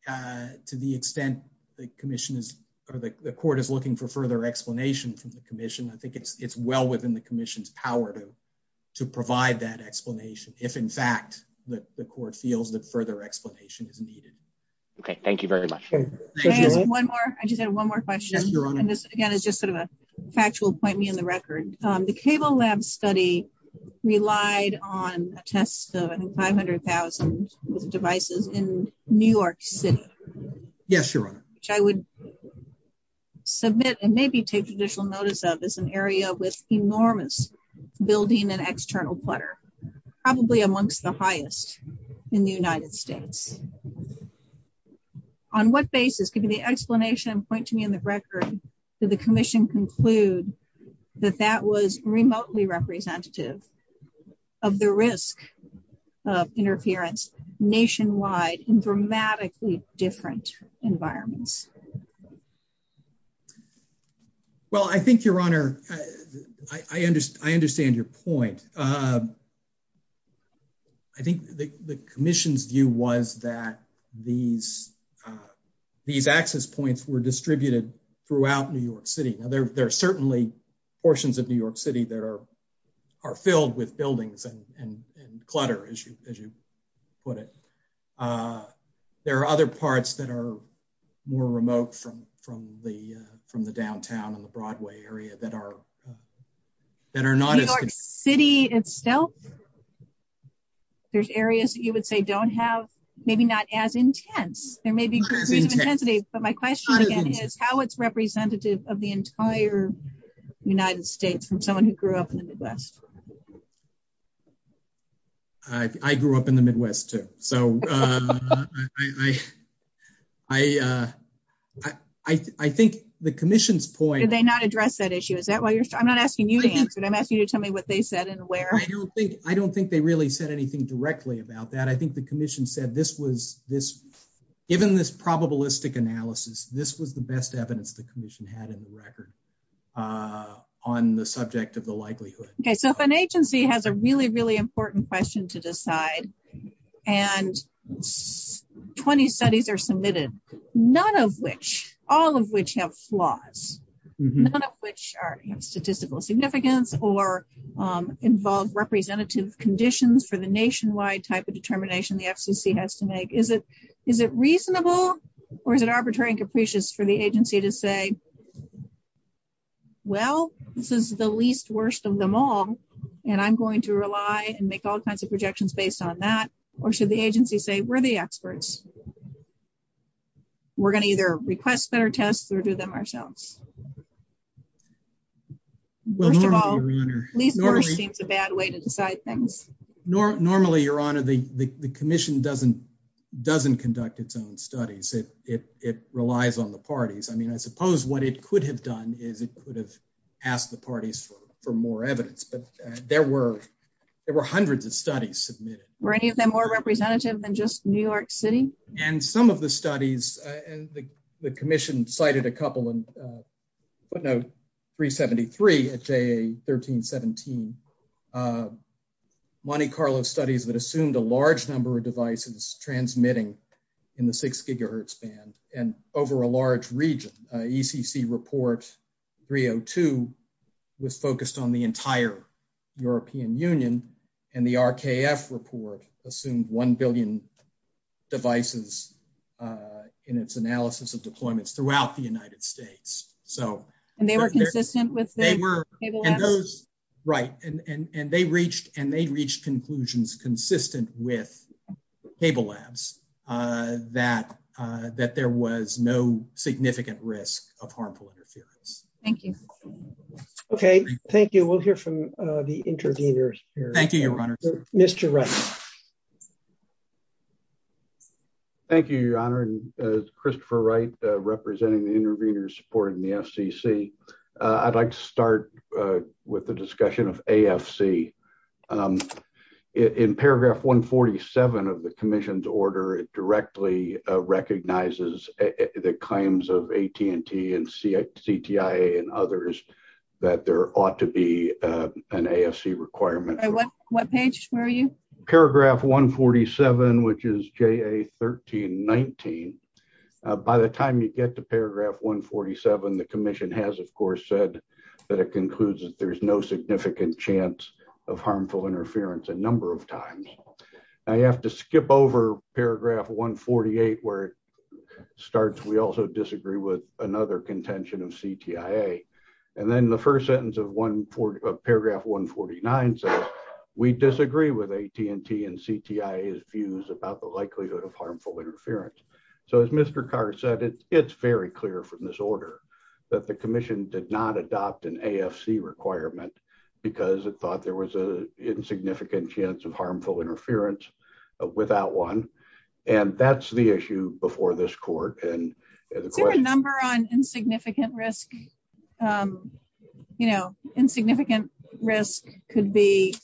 to the extent the commission is or the court is looking for further explanation from the commission, I think it's well within the commission's power to provide that explanation if in fact the court feels that further explanation is needed. Okay. Thank you very much. I just had one more question. Yes, Your Honor. And this, again, is just sort of a factual point me in the record. The Cable Lab study relied on a test of, I think, 500,000 devices in New York City. Yes, Your Honor. Which I would submit and maybe take additional notice of as an area with enormous building and external clutter, probably amongst the highest in the United States. On what basis, given the explanation point to me in the record, did the commission conclude that that was remotely representative of the risk of interference nationwide in dramatically different environments? Well, I think, Your Honor, I understand your point. I think the commission's view was that these access points were distributed throughout New York City. Now, there are certainly portions of New York City that are filled with buildings and clutter, as you put it. There are other parts that are more remote from the downtown and the Broadway area that are not as... New York City itself, there's areas that you would say don't have, maybe not as intense. There may be degrees of intensity. But my question, again, is how it's representative of the entire United States from someone who grew up in the Midwest. I grew up in the Midwest, too. So I think the commission's point... Did they not address that issue? Is that why you're... I'm not asking you to answer it. I'm asking you to tell me what they said and where. I don't think they really said anything directly about that. I think the commission said, given this probabilistic analysis, this was the best evidence the commission had in the record on the subject of the likelihood. Okay. So if an agency has a really, really important question to decide and 20 studies are submitted, none of which, all of which have flaws, none of which have statistical significance, or involve representative conditions for the nationwide type of determination the FCC has to make, is it reasonable or is it arbitrary and capricious for the agency to say, well, this is the least worst of them all. And I'm going to rely and make all kinds of projections based on that. Or should the agency say, we're the experts. We're going to either request better tests or do them ourselves. First of all, least worst seems a bad way to decide things. Normally, your honor, the commission doesn't conduct its own studies. It relies on the parties. I mean, I suppose what it could have done is it could have asked the parties for more evidence, but there were hundreds of studies submitted. Were any of them more representative than just New York City? And some of the studies, and the commission cited a couple and footnote 373 at JA 1317, Monte Carlo studies that assumed a large number of devices transmitting in the six gigahertz band and over a large region. ECC report 302 was focused on the entire European Union and the RKF report assumed 1 billion devices in its analysis of deployments throughout the United States. So, and they were consistent with those, right. And they reached and they reached conclusions consistent with cable labs that there was no significant risk of harmful interference. Thank you. Okay. Thank you. We'll hear from the intervenors here. Thank you, your honor. Mr. Wright. Thank you, your honor. And Christopher Wright representing the intervenors supporting the FCC. I'd like to start with the discussion of AFC. In paragraph 147 of the commission's order directly recognizes the claims of AT&T and CTIA and others that there ought to be an AFC requirement. What page were you? Paragraph 147, which is JA 1319. By the time you get to paragraph 147, the commission has of course said that it concludes that there's no significant chance of harmful interference a number of times. I have to skip over paragraph 148 where it starts. We also disagree with another contention of CTIA. And then the first sentence of paragraph 149 says we disagree with AT&T and CTIA's views about the likelihood of harmful interference. So as Mr. Carr said, it's very clear from this order that the commission did not adopt an AFC requirement because it thought there was a insignificant chance of harmful interference without one. And that's the issue before this court. Is there a number on insignificant risk? Insignificant risk could be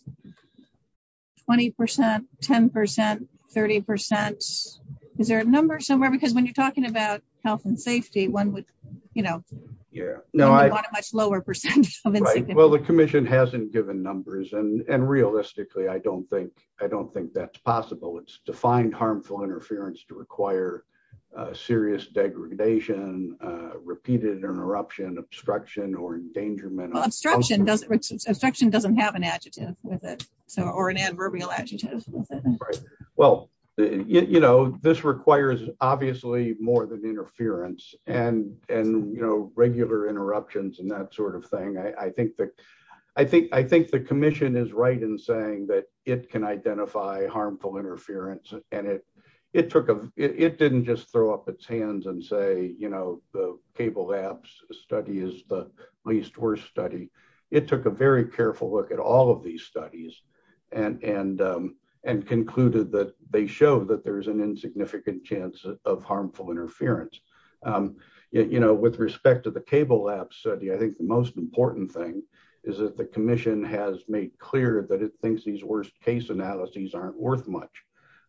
20%, 10%, 30%. Is there a number somewhere? Because when you're talking about health and safety, one would want a much lower percent. Well, the commission hasn't given numbers. And realistically, I don't think that's possible. It's defined harmful interference to require serious degradation, repeated interruption, obstruction, or endangerment. Well, obstruction doesn't have an adjective with it or an adverbial adjective. Well, this requires obviously more than interference and regular interruptions and that sort of thing. I think the commission is right in saying that it can identify harmful interference. And it didn't just throw up its hands and say the cable labs study is the least worst study. It took a very careful look at all of these studies and concluded that they show that there's an insignificant chance of harmful interference. Yet with respect to the cable lab study, I think the most important thing is that the commission has made clear that it thinks these worst case analyses aren't worth much,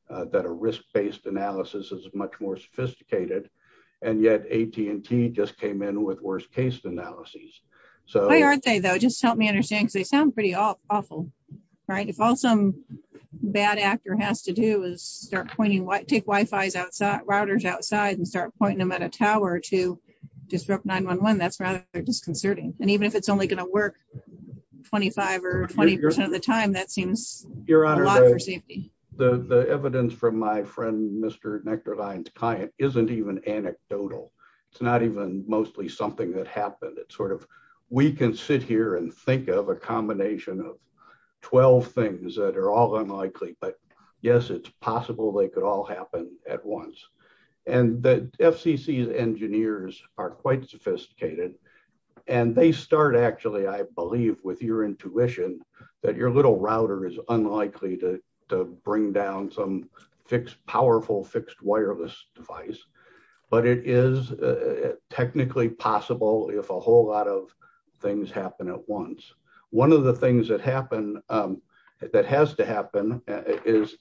that a risk-based analysis is much more sophisticated. And yet AT&T just came in with worst case analyses. Why aren't they, though? Just help me understand because they sound pretty awful. If all some bad actor has to do is start pointing, take routers outside and start pointing them at a tower to disrupt 911, that's rather disconcerting. And even if it's only going to work 25 or 20% of the time, that seems a lot for safety. Your Honor, the evidence from my friend, Mr. Nektarline's client isn't even anecdotal. It's not even mostly something that happened. It's sort of we can sit here and think of a combination of 12 things that are all unlikely. But yes, it's possible they could all happen at once. And the FCC's engineers are quite sophisticated. And they start, actually, I believe, with your intuition that your little router is unlikely to bring down some powerful fixed wireless device. But it is technically possible if a whole lot of things happen at once. One of the things that has to happen is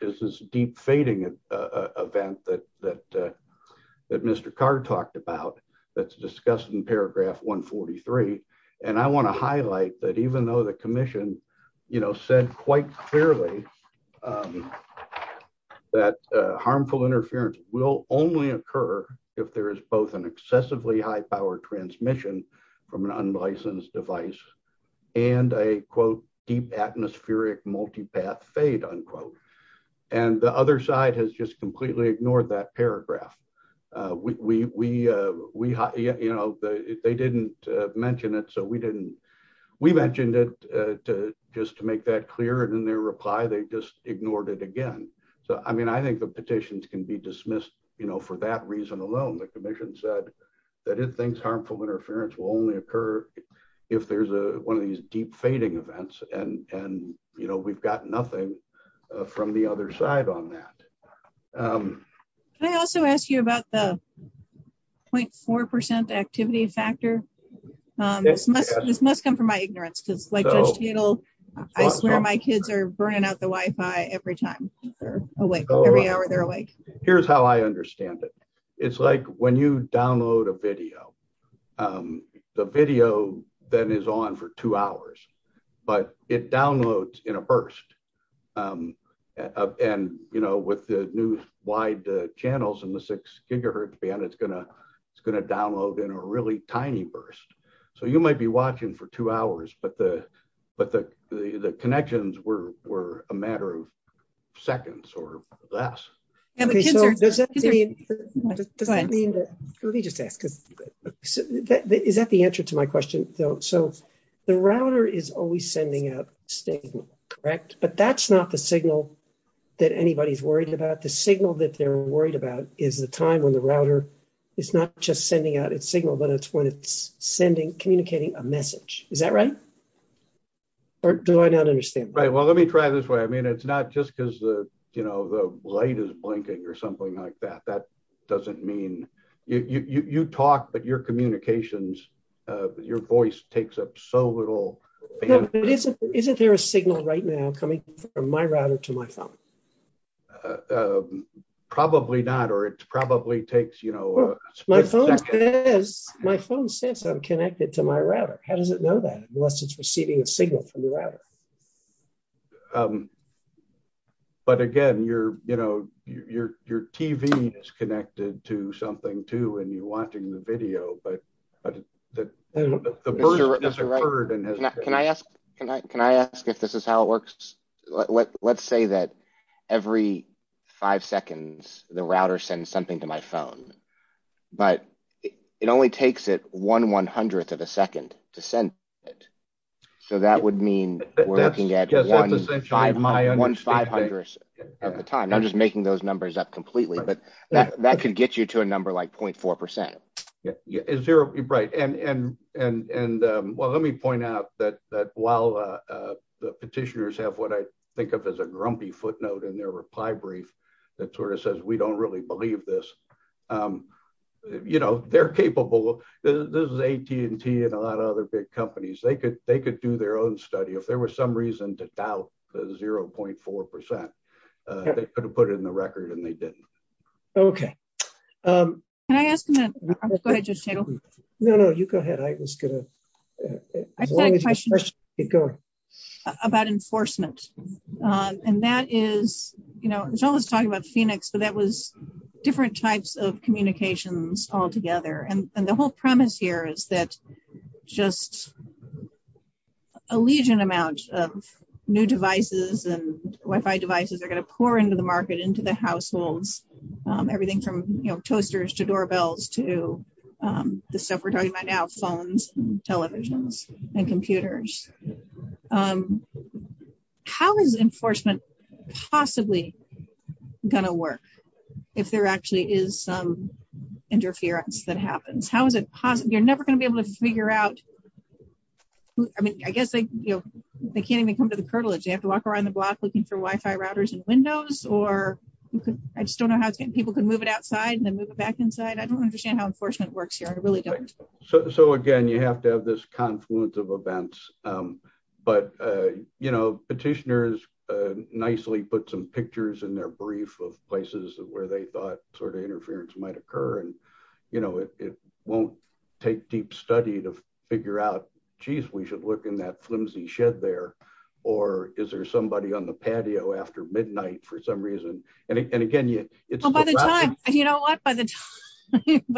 this deep fading event that Mr. Carr talked about that's discussed in paragraph 143. And I want to highlight that even though the commission said quite clearly that harmful interference will only occur if there is both an excessively high power transmission from an unlicensed device and a, quote, deep atmospheric multi-path fade, unquote. And the other side has just completely ignored that paragraph. They didn't mention it. So we mentioned it just to make that clear. And in their reply, they just ignored it again. So I mean, I think the petitions can be dismissed for that reason alone. The commission said that it thinks harmful interference will only occur if there's one of these deep fading events. And we've got nothing from the other side on that. Can I also ask you about the 0.4% activity factor? This must come from my ignorance. Because like Judge Teitel, I swear my kids are burning out the Wi-Fi every time they're awake, every hour they're awake. Here's how I understand it. It's like when you download a video, the video then is on for two hours. But it downloads in a burst. And with the new wide channels and the 6 gigahertz band, it's going to download in a really tiny burst. So you might be watching for two hours. But the connections were a matter of seconds or less. Okay, so does that mean? Let me just ask. Is that the answer to my question, though? So the router is always sending out a signal, correct? But that's not the signal that anybody's worried about. The signal that they're worried about is the time when the router is not just sending out its signal, but it's when it's sending, communicating a message. Is that right? Or do I not understand? Right. Well, let me try this way. It's not just because the light is blinking or something like that. That doesn't mean you talk, but your communications, your voice takes up so little. Isn't there a signal right now coming from my router to my phone? Probably not. Or it probably takes. My phone says I'm connected to my router. How does it know that unless it's receiving a signal from the router? But again, your TV is connected to something, too, and you're watching the video. The burden has occurred. Can I ask if this is how it works? Let's say that every five seconds, the router sends something to my phone, but it only takes it one one hundredth of a second to send it. So that would mean we're looking at one five hundredth of the time. I'm just making those numbers up completely, but that could get you to a number like point four percent. Right. Well, let me point out that while the petitioners have what I think of as a grumpy footnote in their reply brief that sort of says we don't really believe this, they're capable. This is AT&T and a lot of other big companies. They could do their own study. If there was some reason to doubt the zero point four percent, they could have put it in the record and they didn't. Okay. Can I ask? No, no, you go ahead. I was going to go about enforcement. And that is, you know, it's always talking about Phoenix, but that was different types of communications altogether. And the whole premise here is that just a legion amount of new devices and Wi-Fi devices are going to pour into the market, into the households, everything from toasters to doorbells to the stuff we're talking about now, phones, televisions and computers. How is enforcement possibly going to work if there actually is some happens? How is it possible? You're never going to be able to figure out. I mean, I guess they can't even come to the curtilage. They have to walk around the block looking for Wi-Fi routers and windows, or I just don't know how people can move it outside and then move it back inside. I don't understand how enforcement works here. I really don't. So again, you have to have this confluence of events, but, you know, petitioners nicely put some pictures in their brief of places where they thought sort of interference might occur and, you know, it won't take deep study to figure out, geez, we should look in that flimsy shed there. Or is there somebody on the patio after midnight for some reason? And again, you know what, by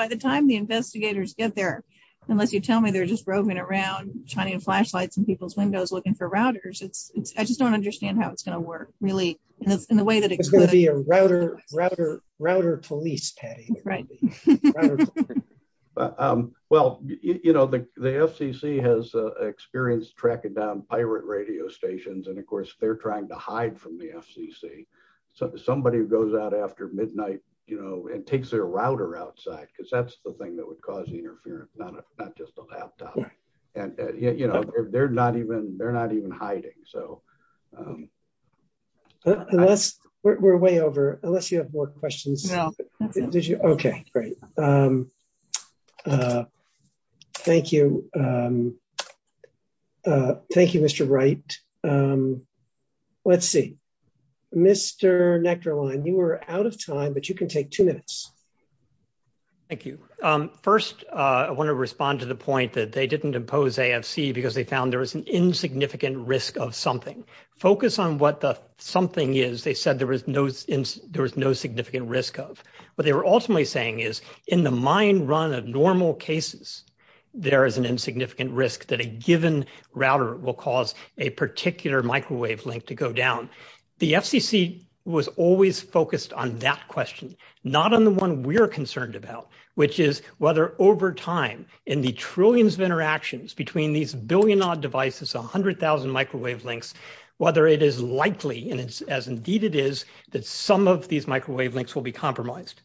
the time the investigators get there, unless you tell me they're just roving around, shining flashlights in people's windows, looking for routers. It's I just don't understand how it's going to work really in the way that it's going to be a router. Router police, Patty. Well, you know, the FCC has experienced tracking down pirate radio stations. And of course, they're trying to hide from the FCC. So somebody who goes out after midnight, you know, and takes their router outside, because that's the thing that would cause interference, not just a laptop. And, you know, they're not even hiding. So we're way over unless you have more questions. Okay, great. Thank you. Thank you, Mr. Wright. Let's see. Mr. Nectarline, you were out of time, but you can take two minutes. Thank you. First, I want to respond to the point that they didn't impose AFC because they found there was an insignificant risk of something. Focus on what the something is. They said there was no there was no significant risk of what they were ultimately saying is in the mind run of normal cases, there is an insignificant risk that a given router will cause a particular microwave link to go down. The FCC was always focused on that question, not on the one we're concerned about, which is whether over time in the trillions of interactions between these billion odd devices, 100,000 microwave links, whether it is likely and it's as indeed it is that some of these microwave links will be compromised.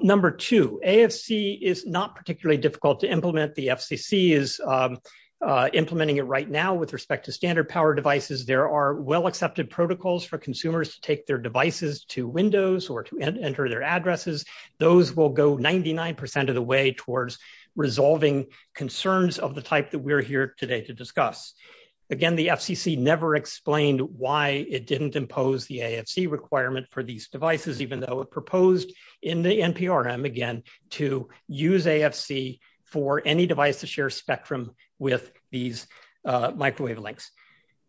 Number two, AFC is not particularly difficult to implement. The FCC is implementing it right now with respect to standard power devices. There are well accepted protocols for consumers to take their devices to Windows or to enter their addresses. Those will go 99% of the way towards resolving concerns of the type that we're here today to discuss. Again, the FCC never explained why it didn't impose the AFC requirement for these devices, even though it proposed in the NPRM again to use AFC for any device to share spectrum with these microwave links.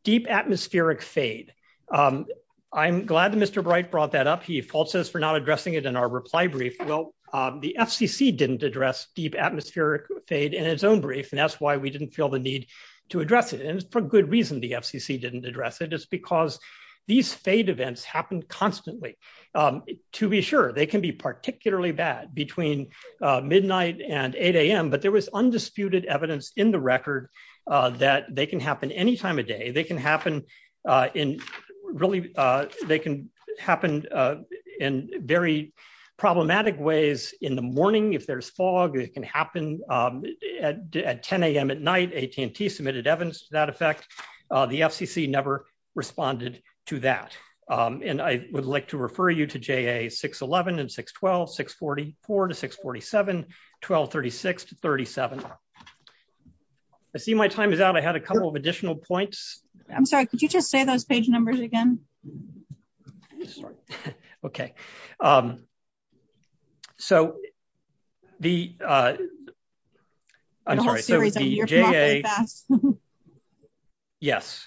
Deep atmospheric fade. I'm glad that Mr. Bright brought that up. Fault says for not addressing it in our reply brief. Well, the FCC didn't address deep atmospheric fade in its own brief, and that's why we didn't feel the need to address it. And for good reason, the FCC didn't address it. It's because these fade events happen constantly. To be sure, they can be particularly bad between midnight and 8 a.m., but there was undisputed evidence in the record that they can happen any time of day. They can happen in very problematic ways in the morning if there's fog. It can happen at 10 a.m. at night. AT&T submitted evidence to that effect. The FCC never responded to that. And I would like to refer you to JA611 and 612, 644 to 647, 1236 to 37. I see my time is out. I had a couple of additional points. I'm sorry. Could you just say those page numbers again? Okay. So the I'm sorry. Yes.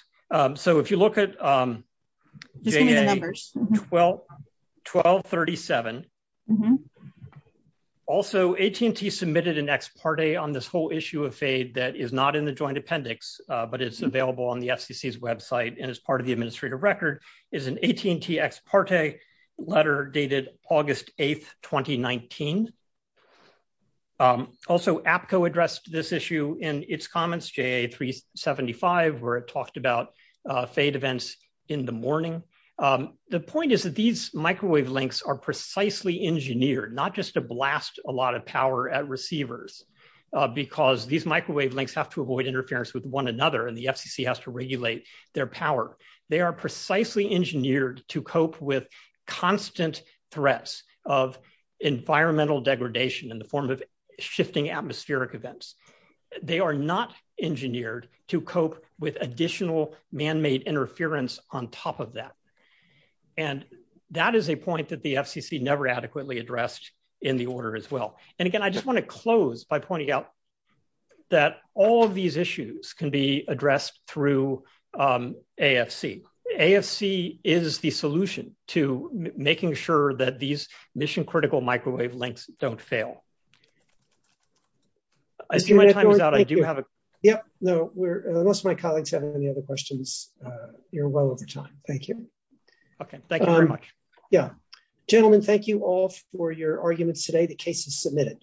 So if you look at 1237, also AT&T submitted an ex parte on this whole issue of fade that is not in the joint appendix, but it's available on the FCC's website and is part of the administrative record, is an AT&T ex parte letter dated August 8, 2019. Also, APCO addressed this issue in its comments, JA375, where it talked about fade events in the morning. The point is that these microwave links are precisely engineered, not just to blast a receivers because these microwave links have to avoid interference with one another and the FCC has to regulate their power. They are precisely engineered to cope with constant threats of environmental degradation in the form of shifting atmospheric events. They are not engineered to cope with additional manmade interference on top of that. And that is a point that the FCC never adequately addressed in the order as well. And again, I just want to close by pointing out that all of these issues can be addressed through AFC. AFC is the solution to making sure that these mission critical microwave links don't fail. I see my time is out. I do have a... Yep. No, most of my colleagues have any other questions. You're well over time. Thank you. Okay. Thank you very much. Yeah. Gentlemen, thank you all for your arguments today. The case is submitted.